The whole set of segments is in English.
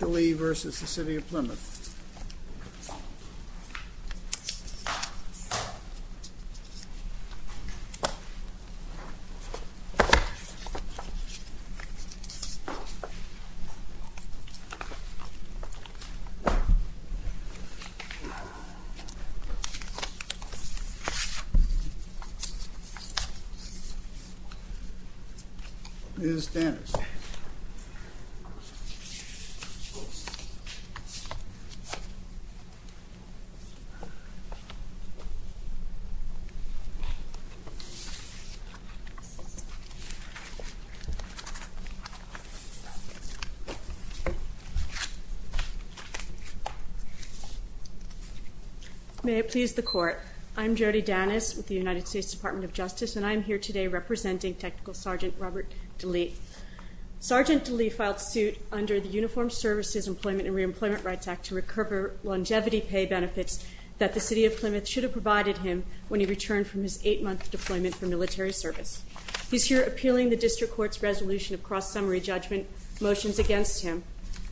DeLee v. City of Plymouth DeLee v. City of Plymouth, Indiana DeLee v. City of Plymouth, Indiana May it please the Court. I'm Jody Dannis with the United States Department of Justice, and I am here today representing Technical Sergeant Robert DeLee. Sergeant DeLee filed suit under the Uniformed Services, Employment, and Reemployment Rights Act to recur longevity pay benefits that the City of Plymouth should have provided him when he returned from his eight-month deployment for military service. He's here appealing the District Court's resolution of cross-summary judgment motions against him,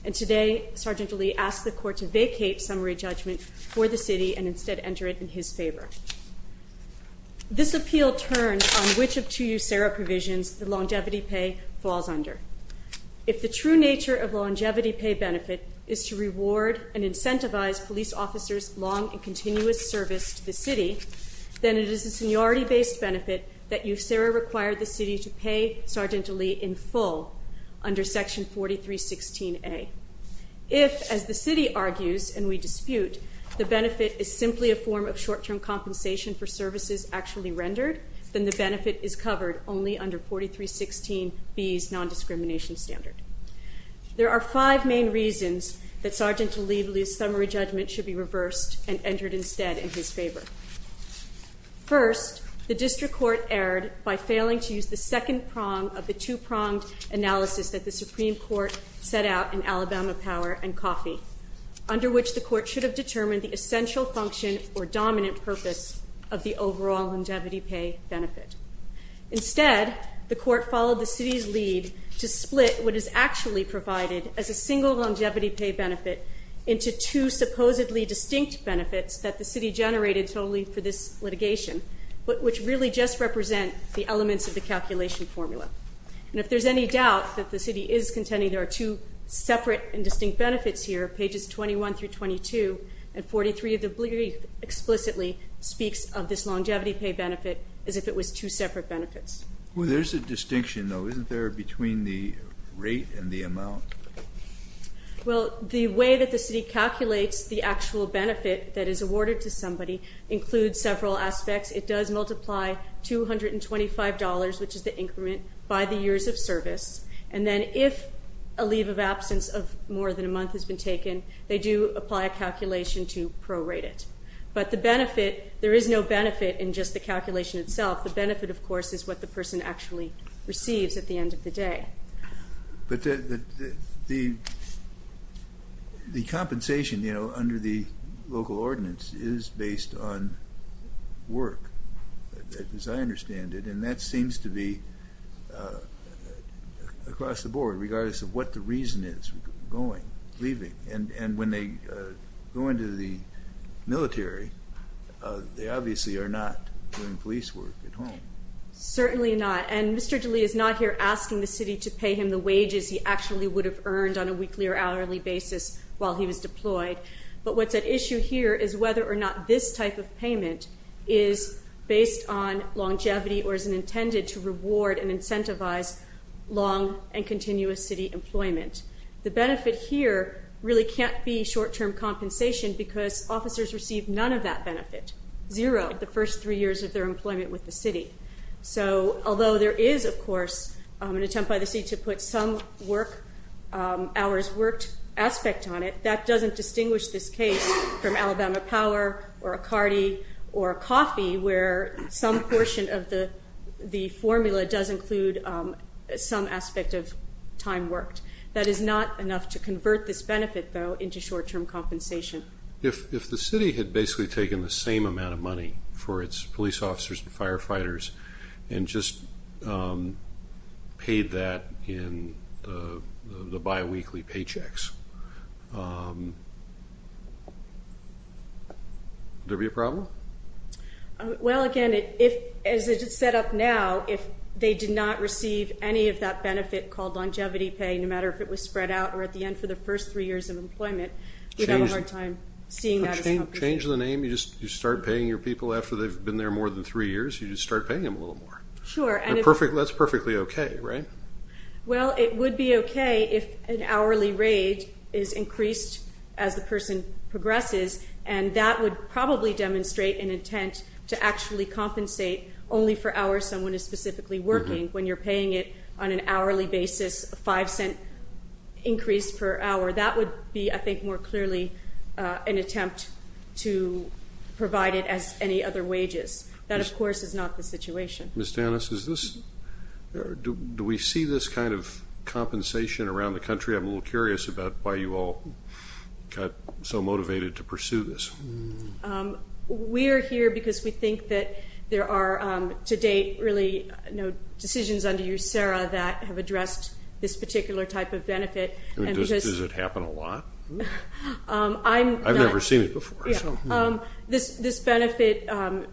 and today Sergeant DeLee asked the Court to vacate summary judgment for the City and instead enter it in his favor. This appeal turns on which of two USERRA provisions the longevity pay falls under. If the true nature of longevity pay benefit is to reward and incentivize police officers' long and continuous service to the City, then it is a seniority-based benefit that USERRA require the City to pay Sergeant DeLee in full under Section 4316A. If, as the City argues and we dispute, the benefit is simply a form of short-term compensation for services actually rendered, then the benefit is covered only under 4316B's nondiscrimination standard. There are five main reasons that Sergeant DeLee believes summary judgment should be reversed and entered instead in his favor. First, the District Court erred by failing to use the second prong of the two-pronged analysis that the Supreme Court set out in Alabama Power and Coffee, under which the Court should have determined the essential function or dominant purpose of the overall longevity pay benefit. Instead, the Court followed the City's lead to split what is actually provided as a single longevity pay benefit into two supposedly distinct benefits that the City generated solely for this litigation, which really just represent the elements of the calculation formula. And if there's any doubt that the City is contending there are two separate and distinct benefits here, pages 21 through 22, and 43 of the brief explicitly speaks of this longevity pay benefit as if it was two separate benefits. Well, there's a distinction though, isn't there, between the rate and the amount? Well, the way that the City calculates the actual benefit that is awarded to somebody includes several aspects. It does multiply $225, which is the increment, by the years of service. And then if a leave of absence of more than a month has been taken, they do apply a calculation to prorate it. But the benefit, there is no benefit in just the calculation itself. The benefit, of course, is what the person actually receives at the end of the day. But the compensation, you know, under the local ordinance is based on work, as I understand it. And that seems to be across the board, regardless of what the reason is for going, leaving. And when they go into the military, they obviously are not doing police work at home. Certainly not. And Mr. DeLee is not here asking the City to pay him the wages he actually would have earned on a weekly or hourly basis while he was deployed. But what's at issue here is whether or not this type of payment is based on longevity or is intended to reward and incentivize long and continuous City employment. The benefit here really can't be short-term compensation because officers receive none of that benefit. Zero the first three years of their employment with the City. So although there is, of course, an attempt by the City to put some work hours worked aspect on it, that doesn't distinguish this case from Alabama Power or a cardi or a coffee where some portion of the formula does include some aspect of time worked. That is not enough to convert this benefit, though, into short-term compensation. If the City had basically taken the same amount of money for its police officers and firefighters and just paid that in the biweekly paychecks, would there be a problem? Well, again, as it is set up now, if they did not receive any of that benefit called longevity pay, no matter if it was spread out or at the end for the first three years of employment, we'd have a hard time seeing that as compensation. Change the name? You just start paying your people after they've been there more than three years? You just start paying them a little more? Sure. That's perfectly okay, right? Well, it would be okay if an hourly rate is increased as the person progresses, and that would probably demonstrate an intent to actually compensate only for hours someone is specifically working. When you're paying it on an hourly basis, a five-cent increase per hour, that would be, I think, more clearly an attempt to provide it as any other wages. That, of course, is not the situation. Ms. Danis, do we see this kind of compensation around the country? I'm a little curious about why you all got so motivated to pursue this. We are here because we think that there are, to date, really no decisions under USERRA that have addressed this particular type of benefit. Does it happen a lot? I've never seen it before. This benefit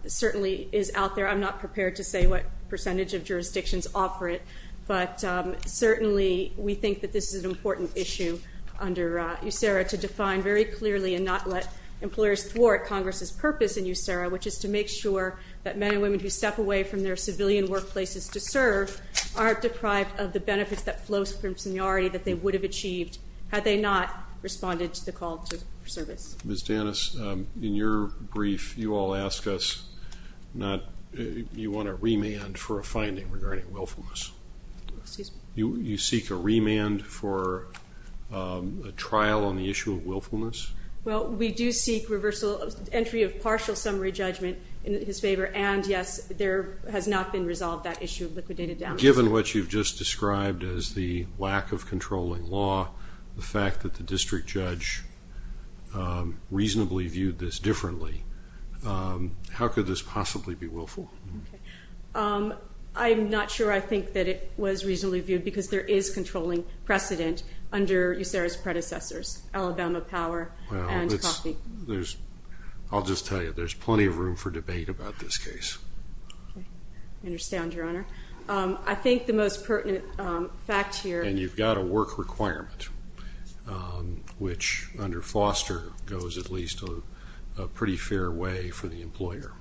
certainly is out there. I'm not prepared to say what percentage of jurisdictions offer it, but certainly we think that this is an important issue under USERRA to define very clearly and not let employers thwart Congress's purpose in USERRA, which is to make sure that men and women who step away from their civilian workplaces to serve aren't deprived of the benefits that flow from seniority that they would have achieved had they not responded to the call to service. Ms. Danis, in your brief, you all ask us, you want a remand for a finding regarding willfulness. Excuse me? You seek a remand for a trial on the issue of willfulness? Well, we do seek entry of partial summary judgment in his favor, and, yes, there has not been resolved that issue of liquidated damages. Given what you've just described as the lack of controlling law, the fact that the district judge reasonably viewed this differently, how could this possibly be willful? I'm not sure I think that it was reasonably viewed because there is controlling precedent under USERRA's predecessors, Alabama Power and Coffee. Well, I'll just tell you, there's plenty of room for debate about this case. I understand, Your Honor. I think the most pertinent fact here And you've got a work requirement, which under Foster goes at least a pretty fair way for the employer.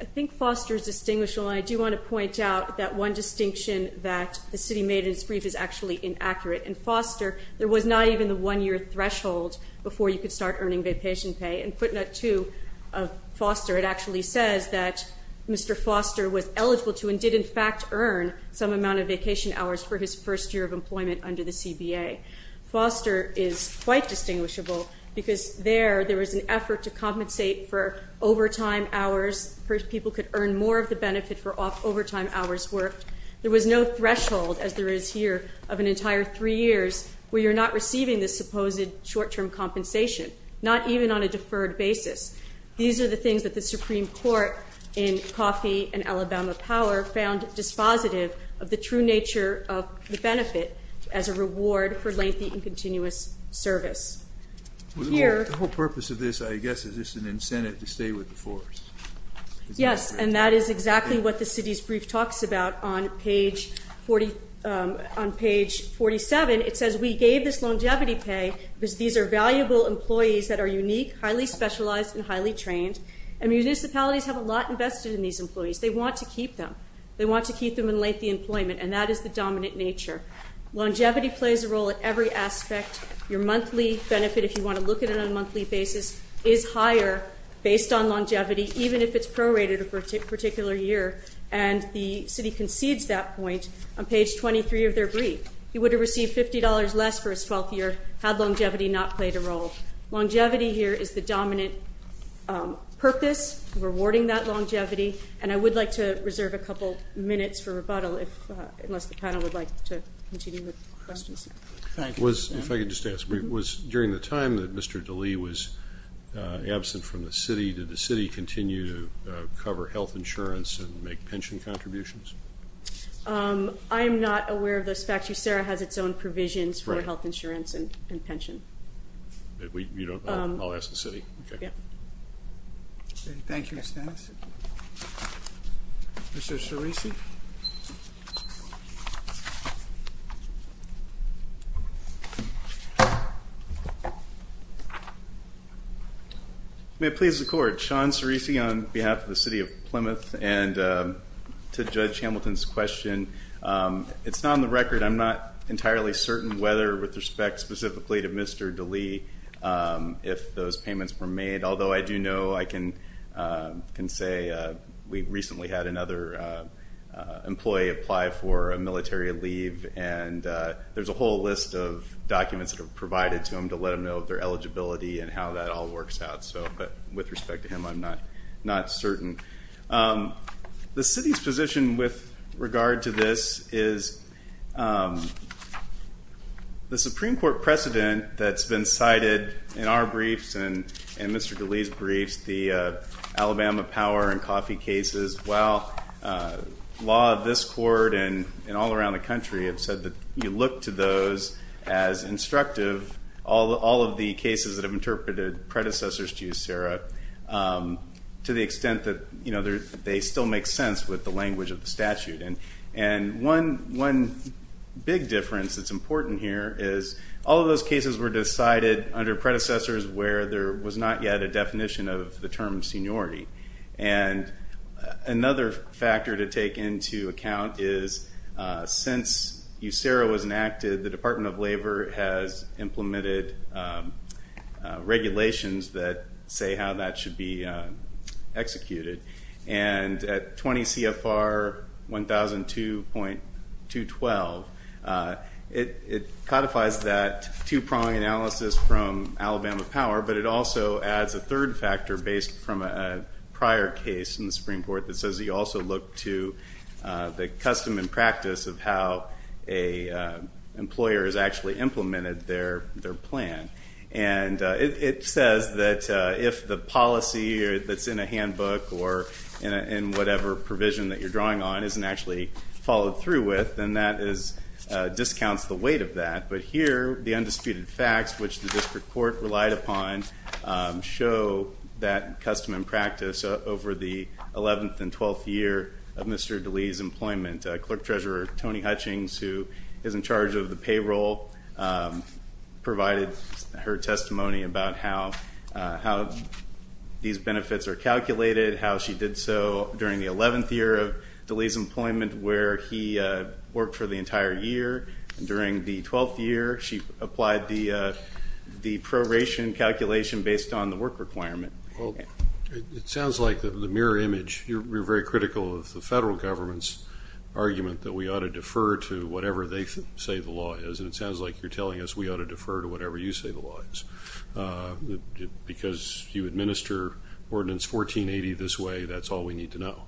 I think Foster is distinguishable, and I do want to point out that one distinction that the city made in its brief is actually inaccurate. In Foster, there was not even the one-year threshold before you could start earning vacation pay. In footnote 2 of Foster, it actually says that Mr. Foster was eligible to and did, in fact, earn some amount of vacation hours for his first year of employment under the CBA. Foster is quite distinguishable because there, there was an effort to compensate for overtime hours. First, people could earn more of the benefit for overtime hours worked. There was no threshold, as there is here, of an entire three years where you're not receiving the supposed short-term compensation, not even on a deferred basis. These are the things that the Supreme Court in Coffee and Alabama Power found dispositive of the true nature of the benefit as a reward for lengthy and continuous service. The whole purpose of this, I guess, is just an incentive to stay with the force. Yes, and that is exactly what the city's brief talks about on page 47. It says we gave this longevity pay because these are valuable employees that are unique, highly specialized, and highly trained, and municipalities have a lot invested in these employees. They want to keep them. They want to keep them in lengthy employment, and that is the dominant nature. Longevity plays a role in every aspect. Your monthly benefit, if you want to look at it on a monthly basis, is higher based on longevity, even if it's prorated for a particular year, and the city concedes that point on page 23 of their brief. He would have received $50 less for his 12th year had longevity not played a role. Longevity here is the dominant purpose, rewarding that longevity, and I would like to reserve a couple minutes for rebuttal unless the panel would like to continue with questions. Thank you. If I could just ask, during the time that Mr. DeLee was absent from the city, did the city continue to cover health insurance and make pension contributions? I am not aware of those facts. UCERA has its own provisions for health insurance and pension. I'll ask the city. Okay. Thank you, Ms. Dennis. Mr. Cerisi? May it please the Court, Sean Cerisi on behalf of the city of Plymouth, and to Judge Hamilton's question, it's not on the record I'm not entirely certain whether with respect specifically to Mr. DeLee, if those payments were made, although I do know I can say we recently had another employee apply for a military leave, and there's a whole list of documents that are provided to him to let him know of their eligibility and how that all works out, but with respect to him, I'm not certain. The city's position with regard to this is the Supreme Court precedent that's been cited in our briefs and Mr. DeLee's briefs, the Alabama power and coffee cases, while law of this court and all around the country have said that you look to those as instructive, all of the cases that have interpreted predecessors to USERRA, to the extent that they still make sense with the language of the statute. And one big difference that's important here is all of those cases were decided under predecessors where there was not yet a definition of the term seniority. And another factor to take into account is since USERRA was enacted, the Department of Labor has implemented regulations that say how that should be executed. And at 20 CFR 1002.212, it codifies that two-prong analysis from Alabama Power, but it also adds a third factor based from a prior case in the Supreme Court that says you also look to the custom and practice of how an employer has actually implemented their plan. And it says that if the policy that's in a handbook or in whatever provision that you're drawing on isn't actually followed through with, then that discounts the weight of that. But here, the undisputed facts, which the district court relied upon, show that custom and practice over the 11th and 12th year of Mr. DeLee's employment. Clerk-Treasurer Tony Hutchings, who is in charge of the payroll, provided her testimony about how these benefits are calculated, how she did so during the 11th year of DeLee's employment where he worked for the entire year. And during the 12th year, she applied the proration calculation based on the work requirement. Well, it sounds like the mirror image, you're very critical of the federal government's argument that we ought to defer to whatever they say the law is, and it sounds like you're telling us we ought to defer to whatever you say the law is. Because you administer Ordinance 1480 this way, that's all we need to know.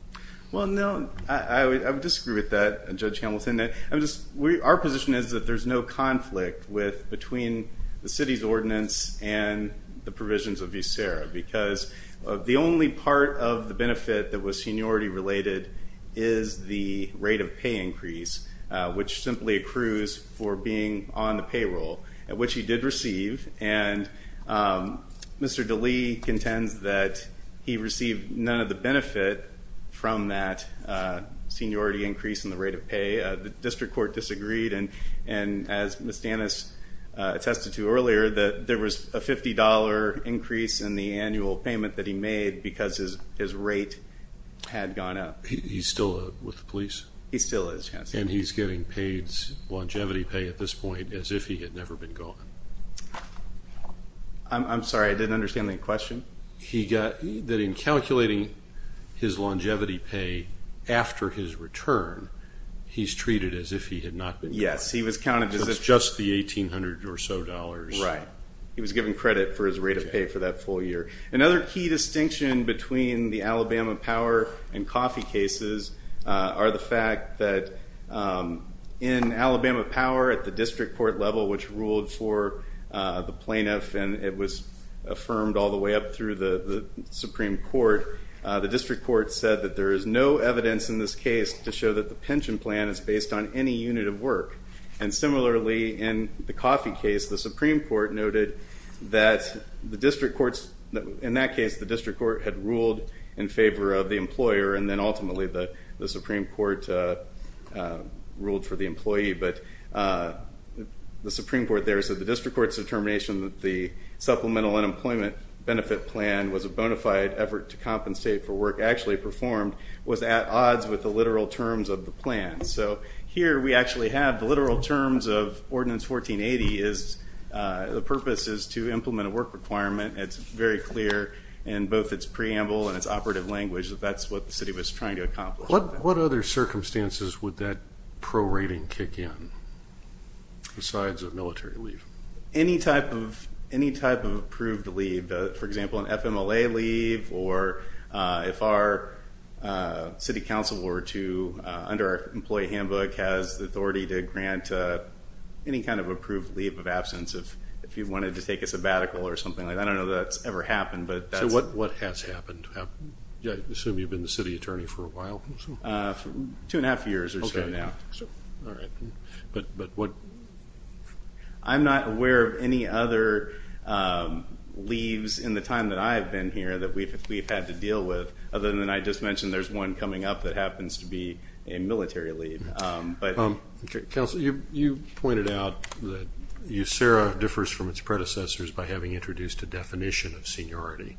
Well, no, I would disagree with that, Judge Hamilton. Our position is that there's no conflict between the city's ordinance and the provisions of USERRA, because the only part of the benefit that was seniority related is the rate of pay increase, which simply accrues for being on the payroll, which he did receive. And Mr. DeLee contends that he received none of the benefit from that seniority increase in the rate of pay. The district court disagreed, and as Ms. Danis attested to earlier, that there was a $50 increase in the annual payment that he made because his rate had gone up. He's still with the police? He still is, yes. And he's getting paid longevity pay at this point as if he had never been gone? I'm sorry, I didn't understand the question. He got that in calculating his longevity pay after his return, he's treated as if he had not been gone. Yes, he was counted as just the $1,800 or so. Right. He was given credit for his rate of pay for that full year. Another key distinction between the Alabama power and coffee cases are the fact that in Alabama power, at the district court level, which ruled for the plaintiff and it was affirmed all the way up through the Supreme Court, the district court said that there is no evidence in this case to show that the pension plan is based on any unit of work. And similarly, in the coffee case, the Supreme Court noted that in that case, the district court had ruled in favor of the employer, and then ultimately the Supreme Court ruled for the employee. But the Supreme Court there said the district court's determination that the supplemental unemployment benefit plan was a bona fide effort to compensate for work actually performed was at odds with the literal terms of the plan. So here we actually have the literal terms of Ordinance 1480. The purpose is to implement a work requirement. It's very clear in both its preamble and its operative language that that's what the city was trying to accomplish. What other circumstances would that prorating kick in besides a military leave? Any type of approved leave. For example, an FMLA leave or if our city council were to, under our employee handbook, has the authority to grant any kind of approved leave of absence if you wanted to take a sabbatical or something like that. I don't know that that's ever happened. So what has happened? I assume you've been the city attorney for a while. Two and a half years or so now. All right. But what? I'm not aware of any other leaves in the time that I've been here that we've had to deal with, other than I just mentioned there's one coming up that happens to be a military leave. Counsel, you pointed out that USERRA differs from its predecessors by having introduced a definition of seniority.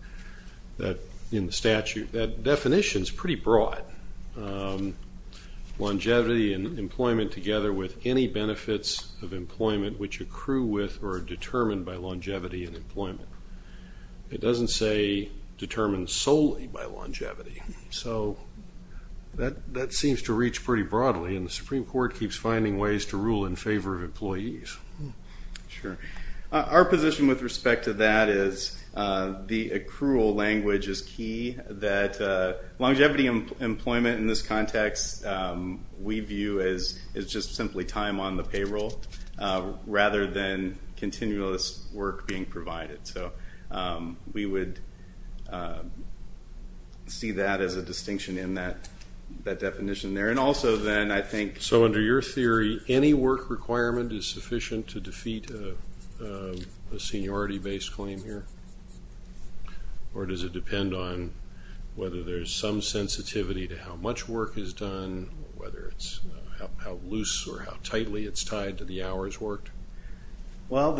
In the statute, that definition is pretty broad. Longevity and employment together with any benefits of employment which accrue with or are determined by longevity and employment. It doesn't say determined solely by longevity. So that seems to reach pretty broadly, and the Supreme Court keeps finding ways to rule in favor of employees. Sure. Our position with respect to that is the accrual language is key, that longevity and employment in this context we view as just simply time on the payroll, rather than continuous work being provided. So we would see that as a distinction in that definition there. So under your theory, any work requirement is sufficient to defeat a seniority-based claim here? Or does it depend on whether there's some sensitivity to how much work is done, whether it's how loose or how tightly it's tied to the hours worked? Well,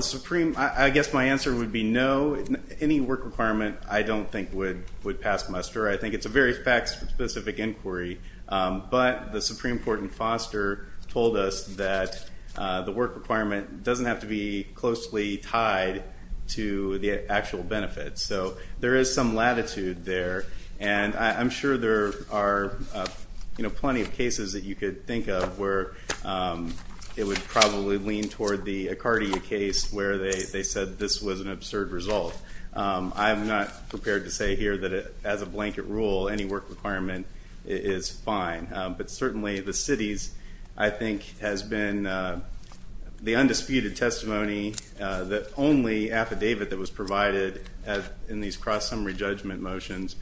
I guess my answer would be no. Any work requirement I don't think would pass muster. I think it's a very fact-specific inquiry, but the Supreme Court in Foster told us that the work requirement doesn't have to be closely tied to the actual benefits. So there is some latitude there, and I'm sure there are plenty of cases that you could think of where it would probably lean toward the Accardia case where they said this was an absurd result. I'm not prepared to say here that, as a blanket rule, any work requirement is fine. But certainly the city's, I think, has been the undisputed testimony that only affidavit that was provided in these cross-summary judgment motions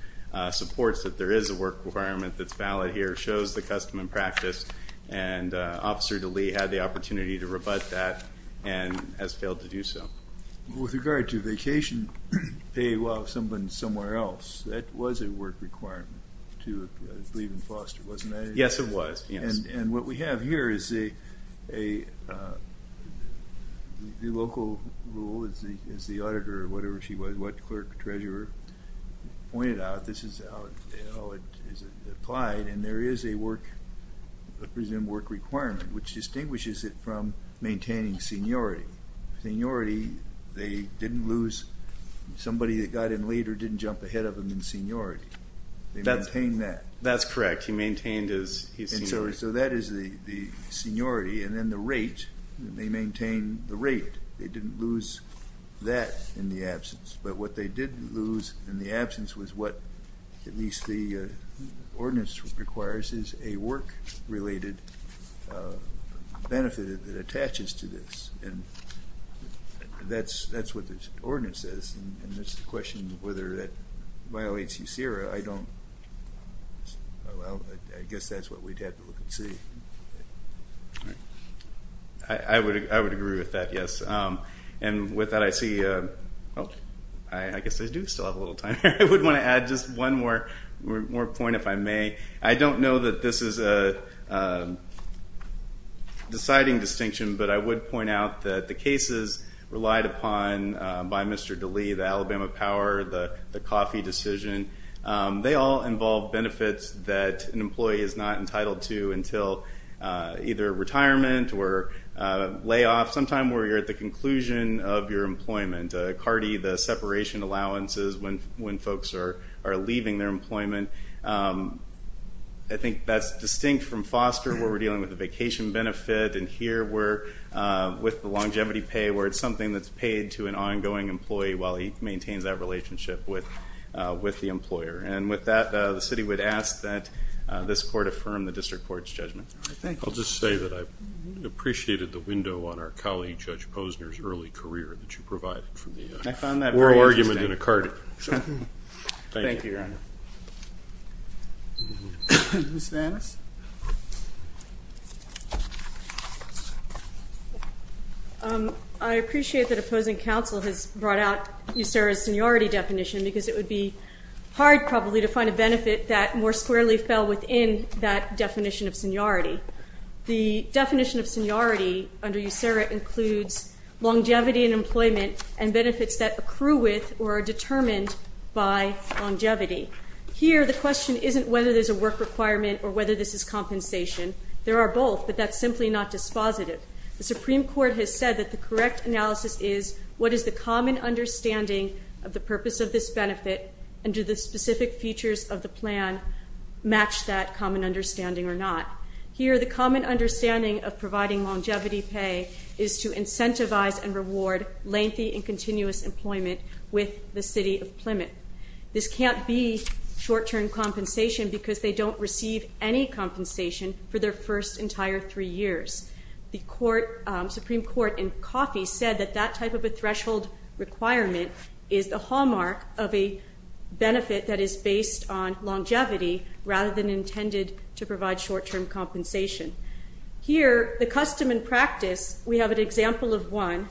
supports that there is a work requirement that's valid here, shows the custom and practice, and Officer DeLee had the opportunity to rebut that and has failed to do so. With regard to vacation pay while someone's somewhere else, that was a work requirement to, I believe, in Foster, wasn't it? Yes, it was. And what we have here is the local rule, as the auditor or whatever she was, what clerk, treasurer, pointed out, this is how it is applied, and there is a work, a presumed work requirement, which distinguishes it from maintaining seniority. Seniority, they didn't lose, somebody that got in later didn't jump ahead of them in seniority. They maintained that. That's correct. He maintained his seniority. And so that is the seniority. And then the rate, they maintained the rate. They didn't lose that in the absence. But what they did lose in the absence was what at least the ordinance requires is a work-related benefit that attaches to this. And that's what this ordinance is. And it's a question of whether that violates USERA. I don't, well, I guess that's what we'd have to look and see. I would agree with that, yes. And with that, I see, oh, I guess I do still have a little time. I would want to add just one more point, if I may. I don't know that this is a deciding distinction, but I would point out that the cases relied upon by Mr. DeLee, the Alabama Power, the coffee decision, they all involve benefits that an employee is not entitled to until either retirement or layoff, sometime where you're at the conclusion of your employment. CARDI, the separation allowances when folks are leaving their employment, I think that's distinct from foster where we're dealing with the vacation benefit, and here we're with the longevity pay where it's something that's paid to an ongoing employee while he maintains that relationship with the employer. And with that, the city would ask that this court affirm the district court's judgment. I'll just say that I appreciated the window on our colleague Judge Posner's early career that you provided for me. I found that very interesting. More argument than a Cardi. Thank you, Your Honor. Ms. Vannis. I appreciate that opposing counsel has brought out USERRA's seniority definition because it would be hard probably to find a benefit that more squarely fell within that definition of seniority. The definition of seniority under USERRA includes longevity in employment and benefits that accrue with or are determined by longevity. Here, the question isn't whether there's a work requirement or whether this is compensation. There are both, but that's simply not dispositive. The Supreme Court has said that the correct analysis is what is the common understanding of the purpose of this benefit and do the specific features of the plan match that common understanding or not. Here, the common understanding of providing longevity pay is to incentivize and reward lengthy and continuous employment with the city of Plymouth. This can't be short-term compensation because they don't receive any compensation for their first entire three years. The Supreme Court in Coffey said that that type of a threshold requirement is the hallmark of a benefit that is based on longevity rather than intended to provide short-term compensation. Here, the custom and practice, we have an example of one.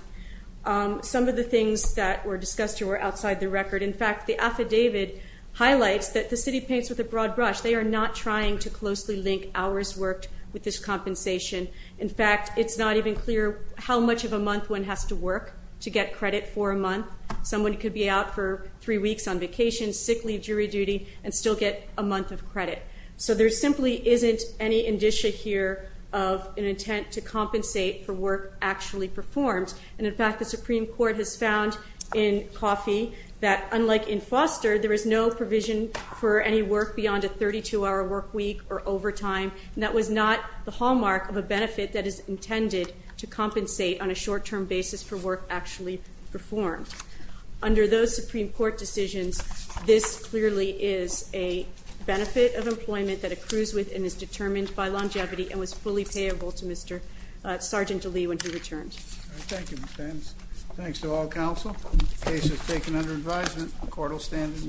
Some of the things that were discussed here were outside the record. In fact, the affidavit highlights that the city paints with a broad brush. They are not trying to closely link hours worked with this compensation. In fact, it's not even clear how much of a month one has to work to get credit for a month. Someone could be out for three weeks on vacation, sick leave, jury duty, and still get a month of credit. So there simply isn't any indicia here of an intent to compensate for work actually performed. And in fact, the Supreme Court has found in Coffey that, unlike in Foster, there is no provision for any work beyond a 32-hour work week or overtime, and that was not the hallmark of a benefit that is intended to compensate on a short-term basis for work actually performed. Under those Supreme Court decisions, this clearly is a benefit of employment that accrues with and is determined by longevity and was fully payable to Sergeant Lee when he returned. Thank you, Ms. Adams. Thanks to all counsel. The case is taken under advisement. The court will stand in recess.